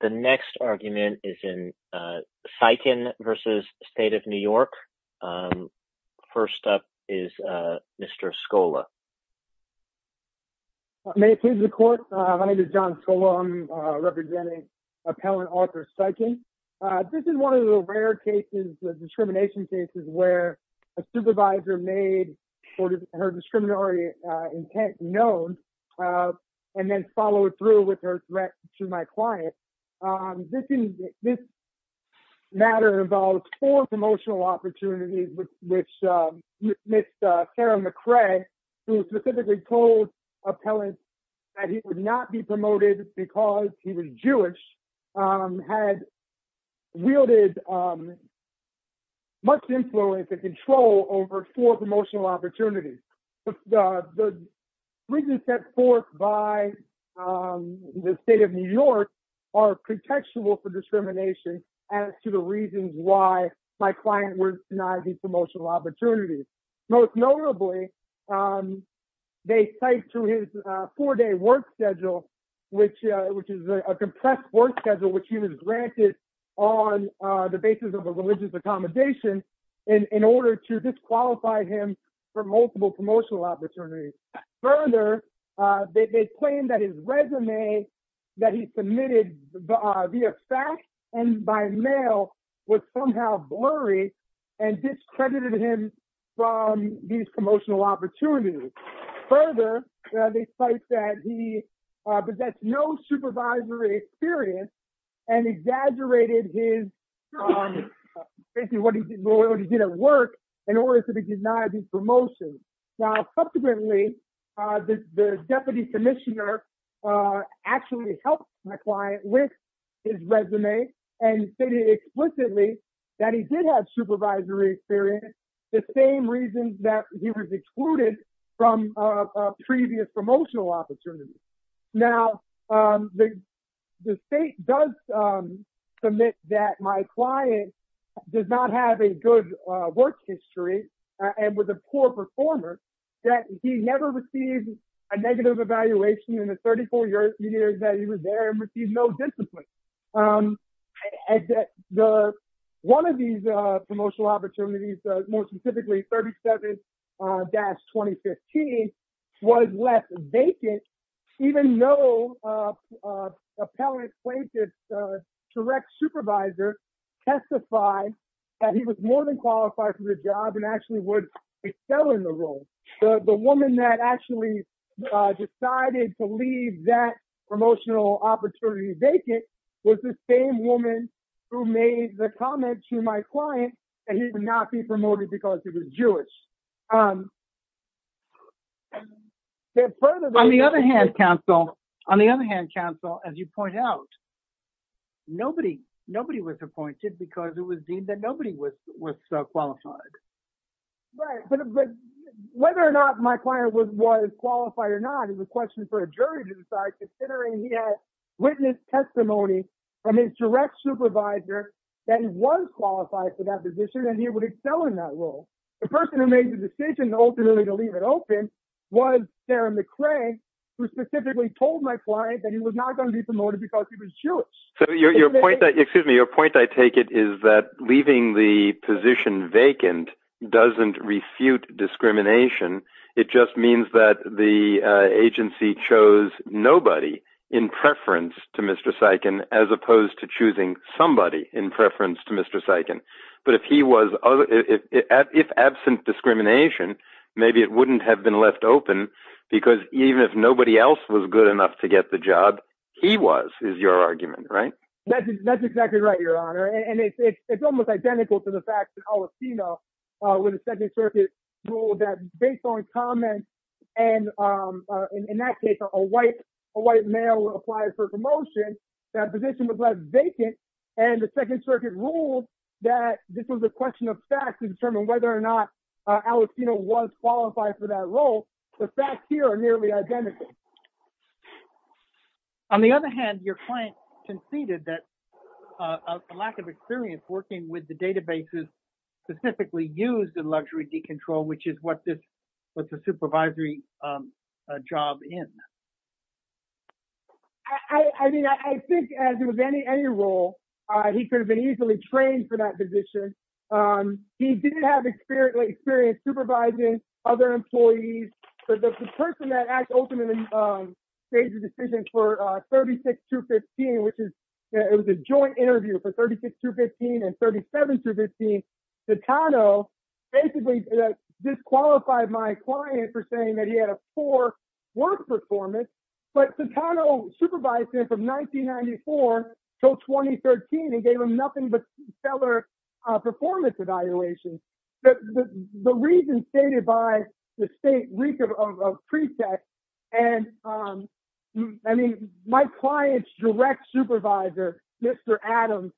The next argument is in Siken v. State of New York. First up is Mr. Scola. May it please the court? My name is John Scola. I'm representing appellant Arthur Siken. This is one of the rare cases, the discrimination cases, where a supervisor made her discriminatory intent known and then followed through with her threat to my client. This matter involves four promotional opportunities, which Ms. Sarah McCray, who specifically told appellants that he would not be promoted because he was Jewish, had wielded much influence and control over four promotional opportunities. The reasons set forth by the State of New York are contextual for discrimination as to the reasons why my client was denied these promotional opportunities. Most notably, they cite to his four-day work schedule, which is a compressed work schedule which he was granted on the basis of a religious accommodation in order to disqualify him for multiple promotional opportunities. Further, they claim that his resume that he submitted via fax and by mail was somehow blurry and discredited him from these promotional opportunities. Further, they cite that he possessed no supervisory experience and exaggerated his basically what he did at work in order to deny the promotion. Now subsequently, the deputy commissioner actually helped my client with his resume and stated explicitly that he did have supervisory experience, the same reasons that he was excluded from previous promotional opportunities. Now, the state does submit that my client does not have a good work history and was a poor performer, that he never received a negative evaluation in the 34 years that he was there and received no discipline. One of these promotional opportunities, more specifically 37-2015, was left vacant even though an appellate plaintiff's direct supervisor testified that he was more than qualified for the job and actually would excel in the role. The woman that actually decided to leave that promotional opportunity vacant was the same woman who made the comment to my client that he would not be promoted because he was Jewish. On the other hand, counsel, as you point out, nobody was appointed because it was deemed that nobody was qualified. Right, but whether or not my client was qualified or not, it was a question for a jury to decide considering he had witness testimony from his direct supervisor that he was qualified for that position and he would excel in that role. The person who made the decision ultimately to leave it open was Sarah McRae who specifically told my client that he was not going to be promoted because he was Jewish. So your point that, excuse me, your point I take it is that leaving the doesn't refute discrimination. It just means that the agency chose nobody in preference to Mr. Sikand as opposed to choosing somebody in preference to Mr. Sikand. But if he was, if absent discrimination, maybe it wouldn't have been left open because even if nobody else was good enough to get the job, he was is your argument, right? That's exactly right, your point. On the other hand, your client conceded that a lack of experience working with the specifically used in luxury decontrol, which is what the supervisory job is. I mean, I think as with any role, he could have been easily trained for that position. He did have experience supervising other employees, but the person that actually made the decision for 36 to 15, which is, it was a joint interview for 36 to 15 and 37 to 15. Citano basically disqualified my client for saying that he had a poor work performance, but Citano supervised him from 1994 till 2013 and gave him nothing but stellar performance evaluations. The reason stated by the state of pretext, and I mean, my client's direct supervisor, Mr. Adams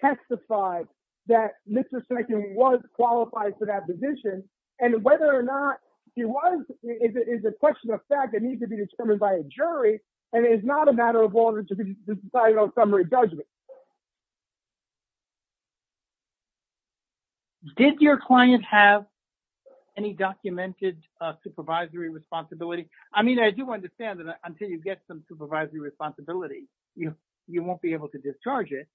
testified that Mr. Sikand was qualified for that position and whether or not he was, it's a question of fact that needs to be determined by a jury and it's not a matter of summary judgment. Did your client have any documented supervisory responsibility? I mean, I do understand that until you get some supervisory responsibility, you won't be able to discharge it.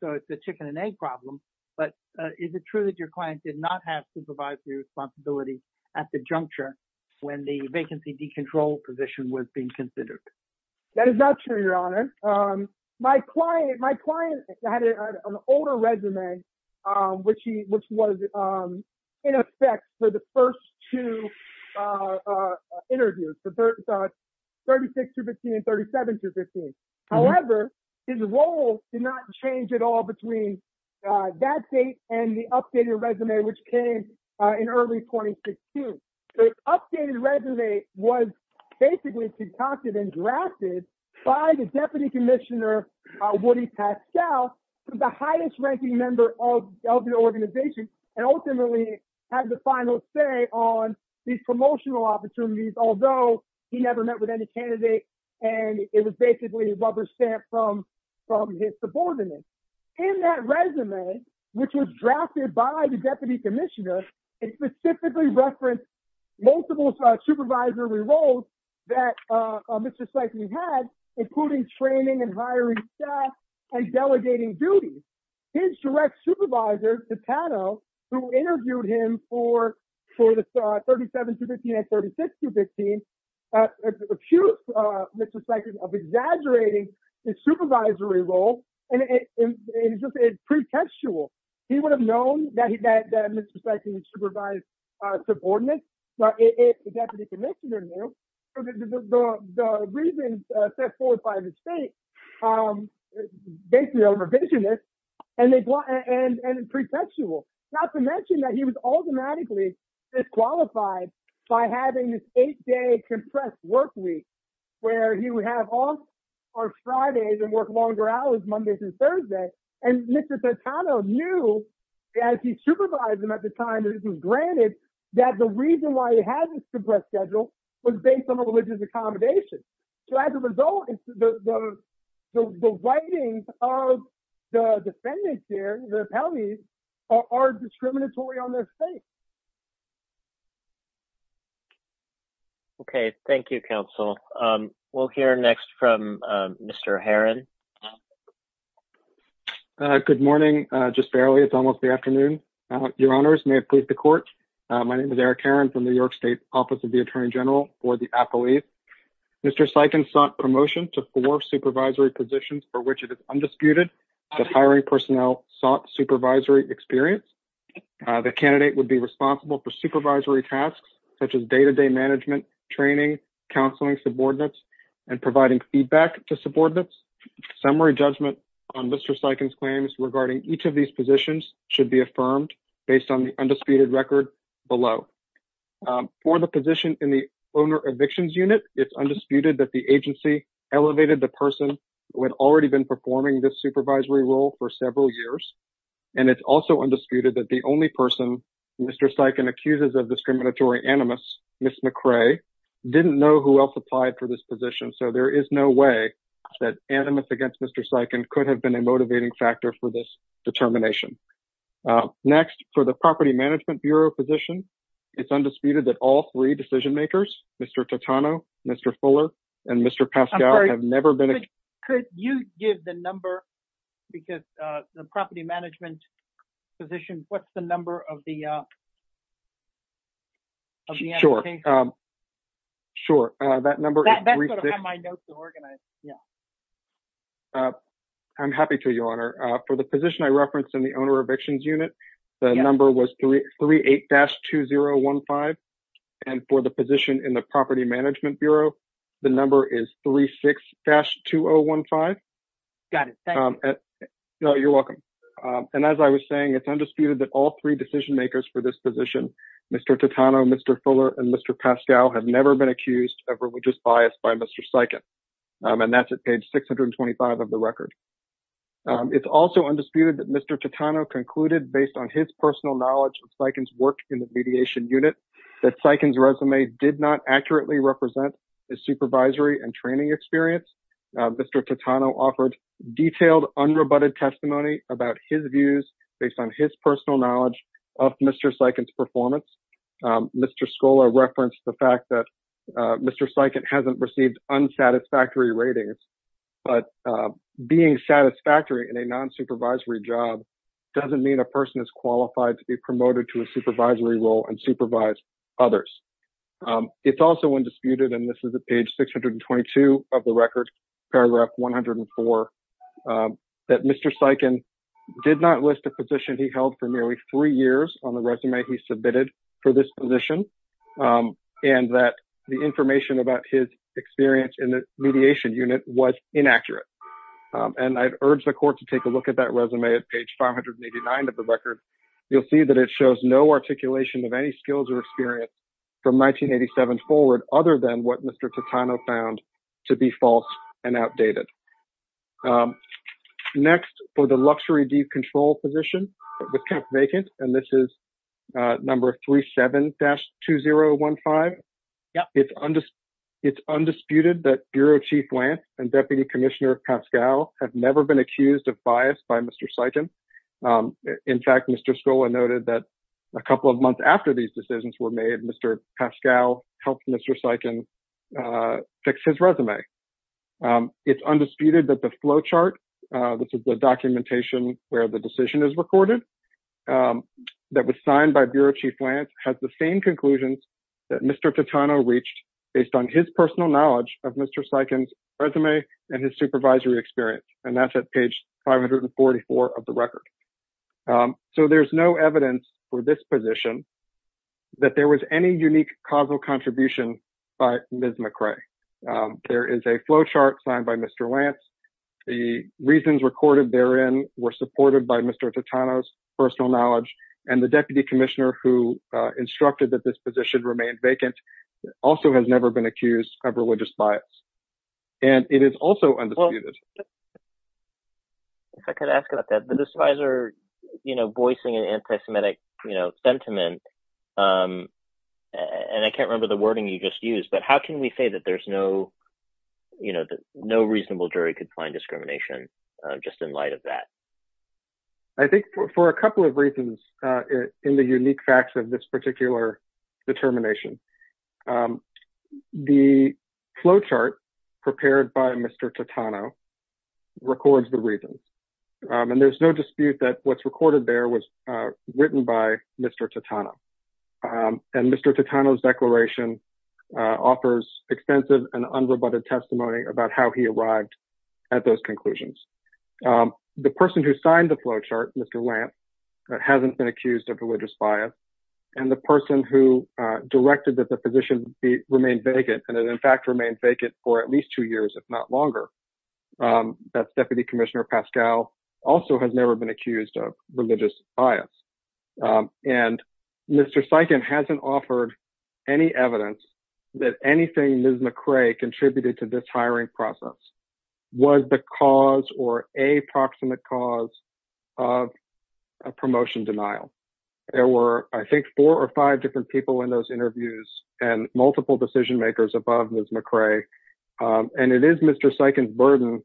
So it's a chicken and egg problem, but is it true that your client did not have supervisory responsibility at the juncture when the vacancy decontrol position was being considered? That is not true, your honor. My client had an older resume, which was in effect for the first two interviews, for 36 to 15 and 37 to 15. However, his role did not change at all between that date and the updated resume, which came in early 2016. The updated resume was basically concocted and drafted by the deputy commissioner, Woody Pascal, the highest ranking member of the organization, and ultimately had the final say on these promotional opportunities, although he never met with any candidates and it was basically rubber stamped from his subordinates. In that resume, which was drafted by the deputy commissioner, it specifically referenced multiple supervisory roles that Mr. Sykes had, including training and hiring staff and delegating duties. His direct supervisor, Tapano, who interviewed him for the 37 to 15 and 36 to 15, accused Mr. Sykes of exaggerating his supervisory role and it's just pretextual. He would have known that Mr. Sykes supervised subordinates, but if the deputy commissioner knew, the reasons set forth by the state, basically overvisionist and pretextual. Not to mention that he was automatically disqualified by having this eight day compressed work week, where he would have off on Fridays and work longer hours Mondays and Thursdays. And Mr. Sykes knew, as he supervised him at the time, it isn't granted that the reason why he had this compressed schedule was based on a religious accommodation. So as a result, the writings of the defendants here, the appellees, are discriminatory on their faith. Okay. Thank you, counsel. We'll hear next from Mr. Heron. Okay. Good morning. Just barely. It's almost the afternoon. Your honors may approve the court. My name is Eric Heron from the New York State Office of the Attorney General for the appellees. Mr. Sykes sought promotion to four supervisory positions for which it is undisputed that hiring personnel sought supervisory experience. The candidate would be responsible for supervisory tasks such as day-to-day management, training, counseling subordinates, and providing feedback to subordinates. Summary judgment on Mr. Sykes' claims regarding each of these positions should be affirmed based on the undisputed record below. For the position in the owner evictions unit, it's undisputed that the agency elevated the person who had already been performing this supervisory role for several years. And it's also undisputed that the only person Mr. Sykes accuses of discriminatory animus, Ms. McCray, didn't know who else for this position. So there is no way that animus against Mr. Sykes could have been a motivating factor for this determination. Next, for the property management bureau position, it's undisputed that all three decision makers, Mr. Totano, Mr. Fuller, and Mr. Pascal have never been... Could you give the number because the property management position, what's the number of the application? Sure. Sure. That number is... That's what I have my notes to organize. Yeah. I'm happy to, Your Honor. For the position I referenced in the owner evictions unit, the number was 38-2015. And for the position in the property management bureau, the number is 36-2015. Got it. Thank you. No, you're welcome. And as I was saying, it's undisputed that all three decision makers for this position, Mr. Totano, Mr. Fuller, and Mr. Pascal have never been accused of religious bias by Mr. Sykes. And that's at page 625 of the record. It's also undisputed that Mr. Totano concluded based on his personal knowledge of Sykes' work in the mediation unit, that Sykes' resume did not accurately represent his supervisory and training experience. Mr. Totano offered detailed unrebutted testimony about his views based on his personal knowledge of Mr. Sykes' performance. Mr. Skola referenced the fact that Mr. Sykes hasn't received unsatisfactory ratings, but being satisfactory in a non-supervisory job doesn't mean a person is qualified to be promoted to a supervisory role and supervise others. It's also undisputed, and this is at page 622 of the record, paragraph 104, that Mr. Sykes did not list a position he held for nearly three years on the resume he submitted for this position, and that the information about his experience in the mediation unit was inaccurate. And I'd urge the court to take a look at that resume at page 589 of the record. You'll see that it shows no articulation of any skills or experience from 1987 forward, other than what Mr. Totano found to be false and outdated. Next, for the luxury decontrol position, it was kept vacant, and this is number 37-2015. It's undisputed that Bureau Chief Lance and Deputy Commissioner Pascal have never been accused of bias by Mr. Sykes. In fact, Mr. Skola noted that a couple of months after these decisions were made, Mr. Pascal helped Sykes fix his resume. It's undisputed that the flowchart, which is the documentation where the decision is recorded, that was signed by Bureau Chief Lance has the same conclusions that Mr. Totano reached based on his personal knowledge of Mr. Sykes' resume and his supervisory experience, and that's at page 544 of the record. So, there's no evidence for this position that there was any unique causal contribution by Ms. McCrae. There is a flowchart signed by Mr. Lance. The reasons recorded therein were supported by Mr. Totano's personal knowledge, and the Deputy Commissioner who instructed that this position remain vacant also has never been accused of religious bias, and it is also undisputed. If I could ask about that, the disadvisor, you know, voicing an anti-Semitic, you know, sentiment, and I can't remember the wording you just used, but how can we say that there's no, you know, that no reasonable jury could find discrimination just in light of that? I think for a couple of reasons in the unique facts of this particular determination, the flowchart prepared by Mr. Totano records the reasons, and there's no dispute that what's recorded there was written by Mr. Totano, and Mr. Totano's declaration offers extensive and unrebutted testimony about how he arrived at those conclusions. The person who signed the flowchart, Mr. Lance, hasn't been accused of religious bias, and the person who directed that the position remain vacant, and it in fact remained vacant for at least two years, if not longer, that's Deputy Commissioner Pascal, also has never been accused of religious bias, and Mr. Sikand hasn't offered any evidence that anything Ms. McRae contributed to this hiring process was the cause or a proximate cause of a promotion denial. There were, I think, four or five different people in those interviews and multiple decision makers above Ms. McRae, and it is Mr. Sikand's burden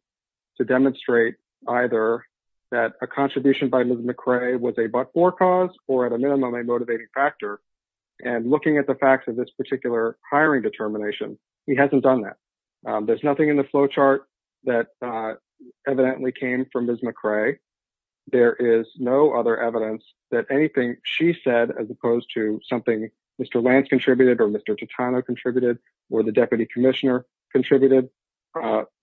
to demonstrate either that a contribution by Ms. McRae was a but-for cause or at a minimum a motivating factor, and looking at the facts of this particular hiring determination, he hasn't done that. There's nothing in the flowchart that evidently came from Ms. McRae. There is no other evidence that anything she said as opposed to something Mr. Lance contributed or Mr. Totano contributed or the Deputy Commissioner contributed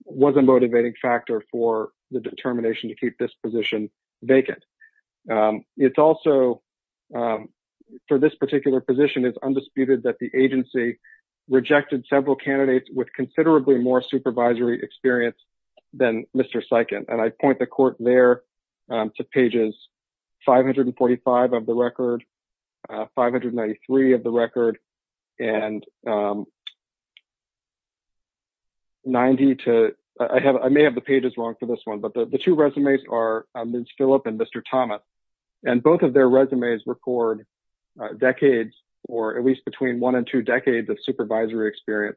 was a motivating factor for the determination to keep this position vacant. It's also, for this particular position, it's undisputed that the two resumes are of Ms. McRae with considerably more supervisory experience than Mr. Sikand, and I point the court there to pages 545 of the record, 593 of the record, and 90 to, I may have the pages wrong for this one, but the two resumes are Ms. Philip and Mr. Thomas, and both of their resumes record decades or at least between one and two decades of supervisory experience,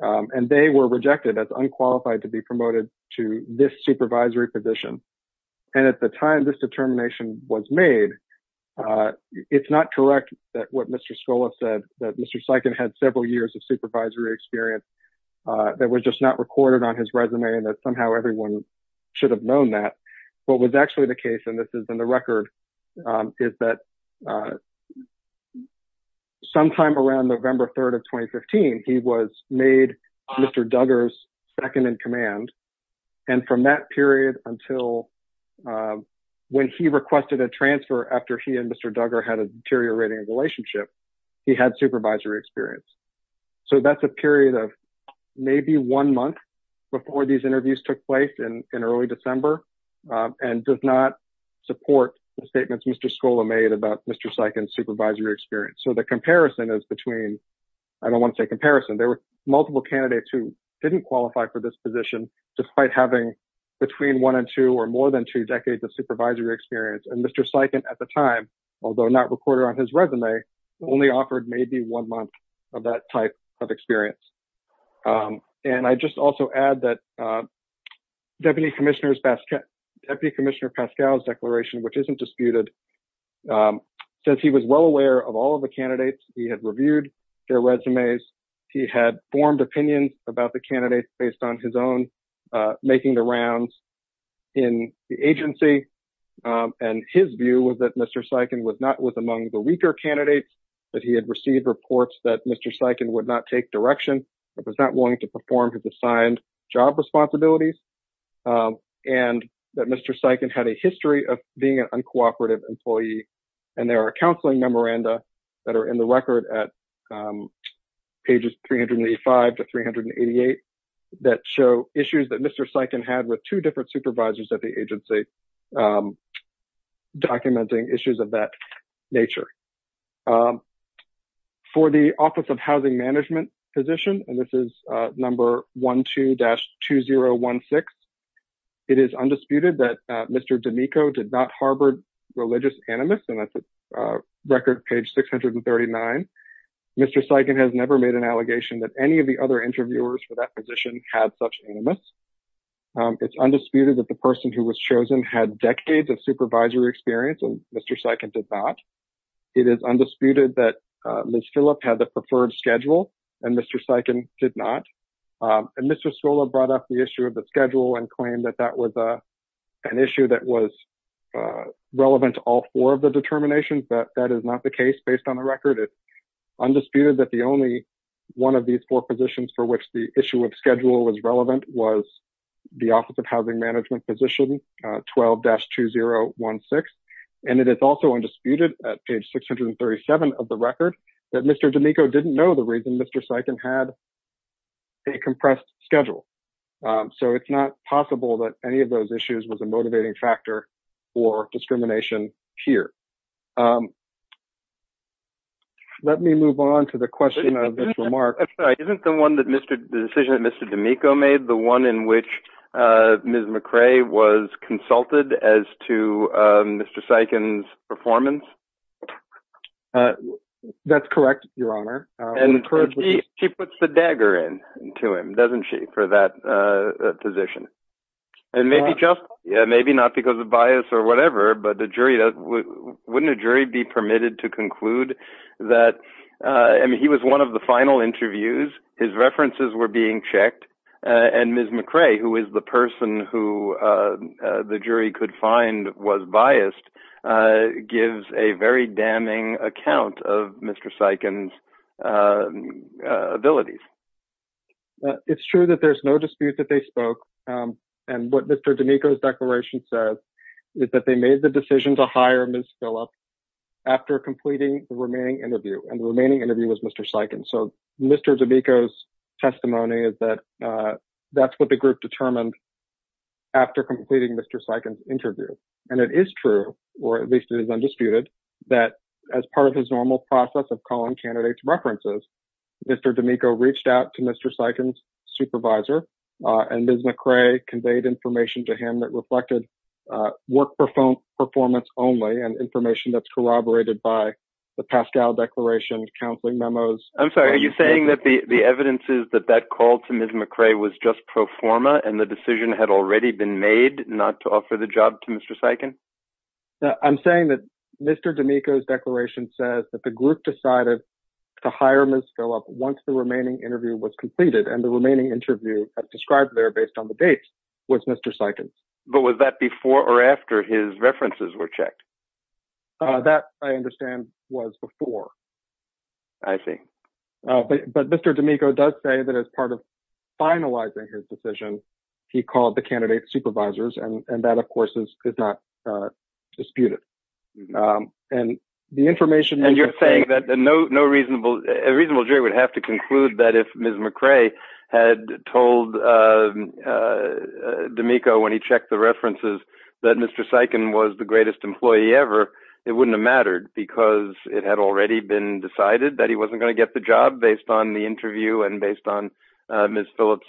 and they were rejected as unqualified to be promoted to this supervisory position, and at the time this determination was made, it's not correct that what Mr. Scola said that Mr. Sikand had several years of supervisory experience that was just not recorded on his resume and that somehow everyone should have known that. What was actually the case, and this is in the record, is that sometime around November 3rd of 2015, he was made Mr. Duggar's second-in-command, and from that period until when he requested a transfer after he and Mr. Duggar had a deteriorating relationship, he had supervisory experience. So that's a period of maybe one month before these interviews took place in early December, and does not support the statements Mr. Scola made about Mr. Sikand's supervisory experience. So the comparison is between, I don't want to say comparison, there were multiple candidates who didn't qualify for this position despite having between one and two or more than two decades of supervisory experience, and Mr. Sikand at the time, although not recorded on his resume, only offered maybe one month of that type of experience. And I just also add that Deputy Commissioner Pascal's declaration, which isn't disputed, says he was well aware of all of the candidates, he had reviewed their resumes, he had formed opinions about the candidates based on his own making the rounds in the agency, and his view was that Mr. Sikand was not with among the weaker candidates, that he had received reports that Mr. Sikand would not take direction, that was not willing to perform his assigned job responsibilities, and that Mr. Sikand had a history of being an uncooperative employee, and there are counseling memoranda that are in the record at pages 385 to 388 that show issues that Mr. Sikand had with two different supervisors at the agency documenting issues of that nature. For the Office of Housing Management position, and this is number 12-2016, it is undisputed that Mr. D'Amico did not harbor religious animus, and that's record page 639. Mr. Sikand has never made an allegation that any of the other interviewers for that position had such animus. It's undisputed that the person who was chosen had decades of supervisory experience, and Mr. Sikand did not. It is undisputed that Ms. Phillip had the preferred schedule, and Mr. Sikand did not, and Mr. Solla brought up the issue of the schedule and claimed that that was an issue that was relevant to all four of the determinations, but that is not the case based on the record. It's undisputed that the only one of these four positions for which the and it is also undisputed at page 637 of the record that Mr. D'Amico didn't know the reason Mr. Sikand had a compressed schedule, so it's not possible that any of those issues was a motivating factor for discrimination here. Let me move on to the question of this remark. Isn't the decision that Mr. D'Amico made the one in which Ms. McRae was consulted as to Mr. Sikand's performance? That's correct, Your Honor. She puts the dagger into him, doesn't she, for that position, and maybe not because of bias or whatever, but wouldn't a jury be permitted to conclude that he was one of the final interviews, his references were being checked, and Ms. McRae, who is the person who the jury could find was biased, gives a very damning account of Mr. Sikand's abilities? It's true that there's no dispute that they spoke, and what Mr. D'Amico's declaration says is that they made the decision to hire Ms. Phillips after completing the remaining interview, and the remaining interview was Mr. Sikand, so Mr. D'Amico's testimony is that that's what the or at least it is undisputed, that as part of his normal process of calling candidates references, Mr. D'Amico reached out to Mr. Sikand's supervisor, and Ms. McRae conveyed information to him that reflected work performance only and information that's corroborated by the Pascal Declaration, counseling memos. I'm sorry, are you saying that the evidence is that that call to Ms. McRae was just pro forma and the decision had already been made not to offer the job to Mr. Sikand? I'm saying that Mr. D'Amico's declaration says that the group decided to hire Ms. Phillips once the remaining interview was completed, and the remaining interview described there based on the dates was Mr. Sikand's. But was that before or after his references were checked? That, I understand, was before. I see. But Mr. D'Amico does say that as part of finalizing his decision, he called the and that, of course, is not disputed. And you're saying that a reasonable jury would have to conclude that if Ms. McRae had told D'Amico when he checked the references that Mr. Sikand was the greatest employee ever, it wouldn't have mattered because it had already been decided that he wasn't going to get the job based on the interview and based on Ms. Phillips?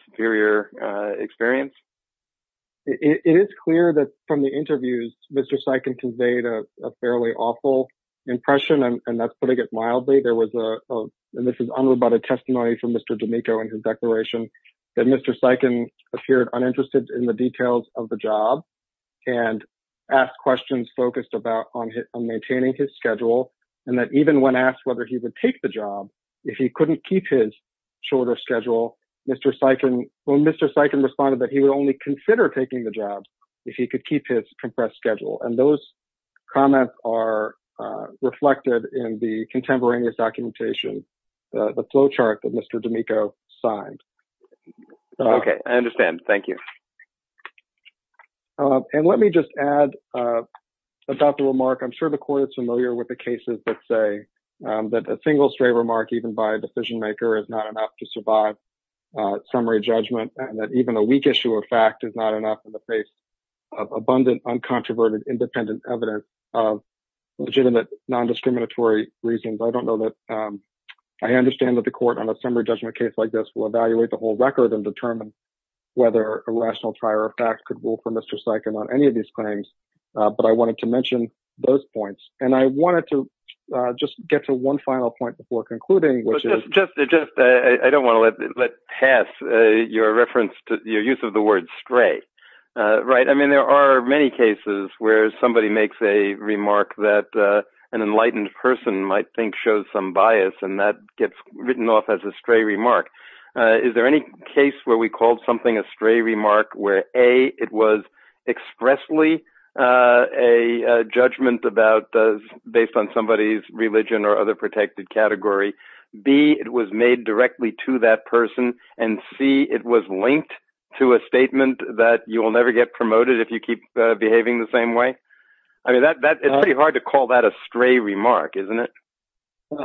It's clear that from the interviews, Mr. Sikand conveyed a fairly awful impression, and that's putting it mildly. There was a, and this is unroboted testimony from Mr. D'Amico in his declaration, that Mr. Sikand appeared uninterested in the details of the job and asked questions focused about on maintaining his schedule and that even when asked whether he would take the job, if he couldn't keep his shorter schedule, Mr. Sikand, when Mr. Sikand responded that he would only consider taking the job if he could keep his compressed schedule. And those comments are reflected in the contemporaneous documentation, the flow chart that Mr. D'Amico signed. Okay. I understand. Thank you. And let me just add about the remark. I'm sure the court is familiar with the cases that say that a single stray remark even by a decision maker is not enough to survive summary judgment. And that even a weak issue of fact is not enough in the face of abundant, uncontroverted, independent evidence of legitimate non-discriminatory reasons. I don't know that, I understand that the court on a summary judgment case like this will evaluate the whole record and determine whether a rational trial or fact could rule for Mr. Sikand on any of these claims. But I wanted to mention those points. And I wanted to just get to one final point before concluding. I don't want to let pass your reference to your use of the word stray. Right. I mean, there are many cases where somebody makes a remark that an enlightened person might think shows some bias and that gets written off as a stray remark. Is there any case where we called something a stray remark where A, it was expressly a judgment based on somebody's religion or other protected category, B, it was made directly to that person, and C, it was linked to a statement that you will never get promoted if you keep behaving the same way? I mean, it's pretty hard to call that a stray remark, isn't it?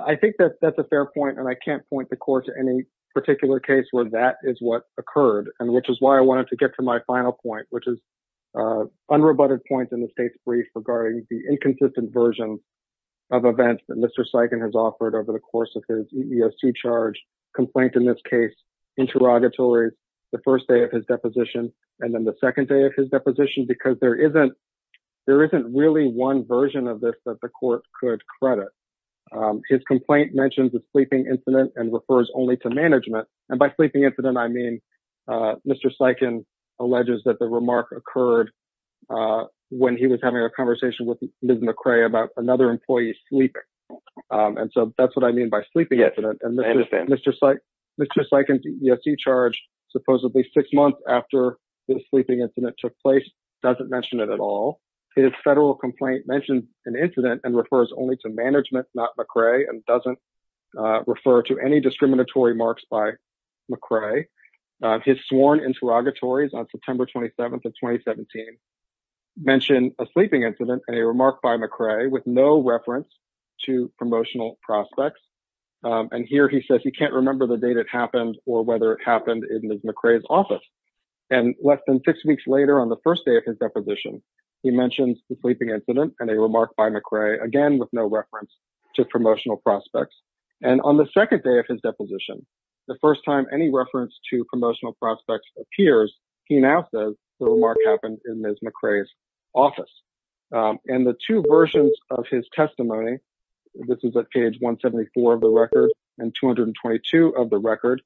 I think that that's a fair point. And I can't point the court to any particular case where that is what occurred. And which is why I wanted to get to my final point, which is unrebutted points in the state's brief regarding the inconsistent version of events that Mr. Sykin has offered over the course of his EES2 charge, complaint in this case, interrogatory, the first day of his deposition, and then the second day of his deposition, because there isn't really one version of this that the court could credit. His complaint mentions a sleeping incident and refers only to management. And by sleeping incident, I mean, Mr. Sykin alleges that the remark occurred when he was having a conversation with Ms. McRae about another employee sleeping. And so that's what I mean by sleeping incident. And Mr. Sykin's EES2 charge, supposedly six months after the sleeping incident took place, doesn't mention it at all. His federal complaint mentioned an incident and refers only to management, not McRae, and doesn't refer to any discriminatory remarks by McRae. His sworn interrogatories on September 27th of 2017 mention a sleeping incident and a remark by McRae with no reference to promotional prospects. And here he says he can't remember the date it happened or whether it happened in Ms. McRae's office. And less than six weeks later, on the first day of his deposition, he mentions the sleeping incident and a remark by McRae, again with no reference to promotional prospects. And on the second day of his deposition, the first time any reference to appears, he now says the remark happened in Ms. McRae's office. And the two versions of his testimony, this is at page 174 of the record and 222 of the record,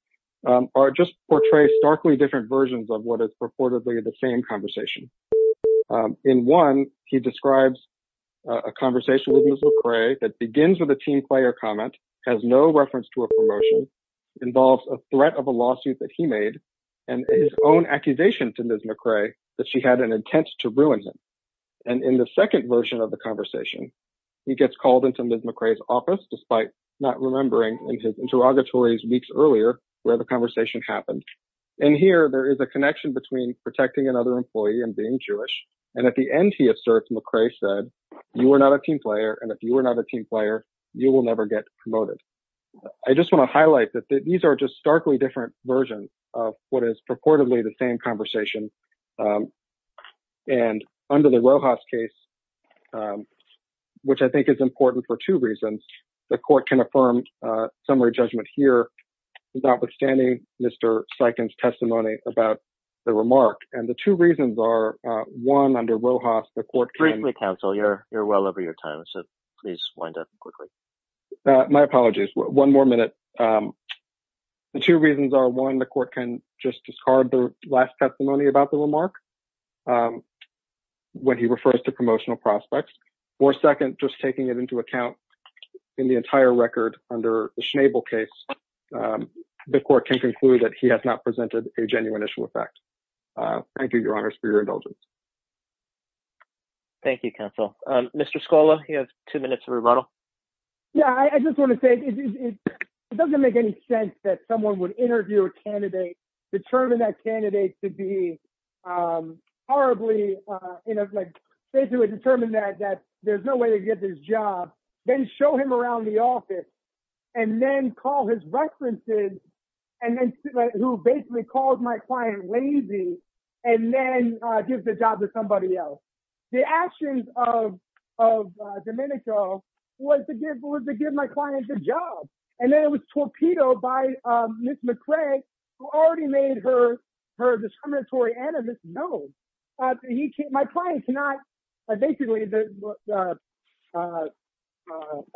just portray starkly different versions of what is purportedly the same conversation. In one, he describes a conversation with Ms. McRae that begins with a team player comment, has no reference to a promotion, involves a threat of a lawsuit that he made, and his own accusation to Ms. McRae that she had an intent to ruin him. And in the second version of the conversation, he gets called into Ms. McRae's office, despite not remembering in his interrogatories weeks earlier where the conversation happened. And here there is a connection between protecting another employee and being Jewish. And at the end, he asserts McRae said, you are not a team player, and if you are not a team player, you will never get promoted. I just want to highlight that these are just starkly different versions of what is purportedly the same conversation. And under the Rojas case, which I think is important for two reasons, the court can affirm summary judgment here, notwithstanding Mr. Sikand's testimony about the remark. And the two reasons are, one, under Rojas, the court can- Briefly, counsel, you're well over your time, so please wind up quickly. My apologies. One more minute. The two reasons are, one, the court can just discard the last testimony about the remark when he refers to promotional prospects. Or second, just taking it into account in the entire record under the Schnabel case, the court can conclude that he has not presented a genuine issue of fact. Thank you, your honors, for your indulgence. Thank you, counsel. Mr. Scola, you have two minutes of rebuttal. Yeah, I just want to say it doesn't make any sense that someone would interview a candidate, determine that candidate to be horribly, you know, like, they do a determined that there's no way to get this job, then show him around the office, and then call his references, and then who basically calls my client lazy, and then gives the job to somebody else. The actions of Domenico was to give my client the job. And then it was torpedoed by Ms. McCraig, who already made her discriminatory animus known. My client cannot, basically, the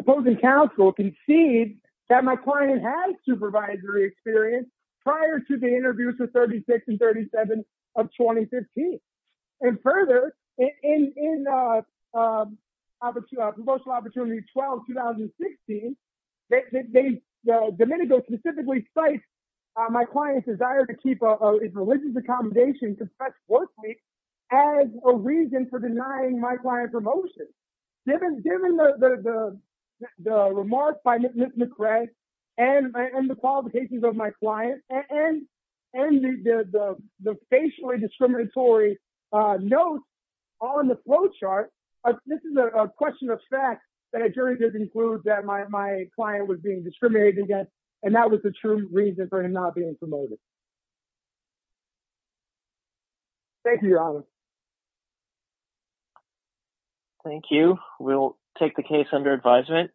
opposing counsel concede that my client has supervisory experience prior to the interviews with 36 and 37 of 2015. And further, in promotional opportunity 12, 2016, Domenico specifically cites my client's desire to keep his religious accommodation confessed as a reason for denying my client promotion. Given the remarks by Ms. McCraig, and the qualifications of my client, and the facially discriminatory notes on the flow chart, this is a question of fact that a jury did include that my client was being discriminated against, and that was the true reason for him not being promoted. Thank you, Your Honor. Thank you. We'll take the case under advisement.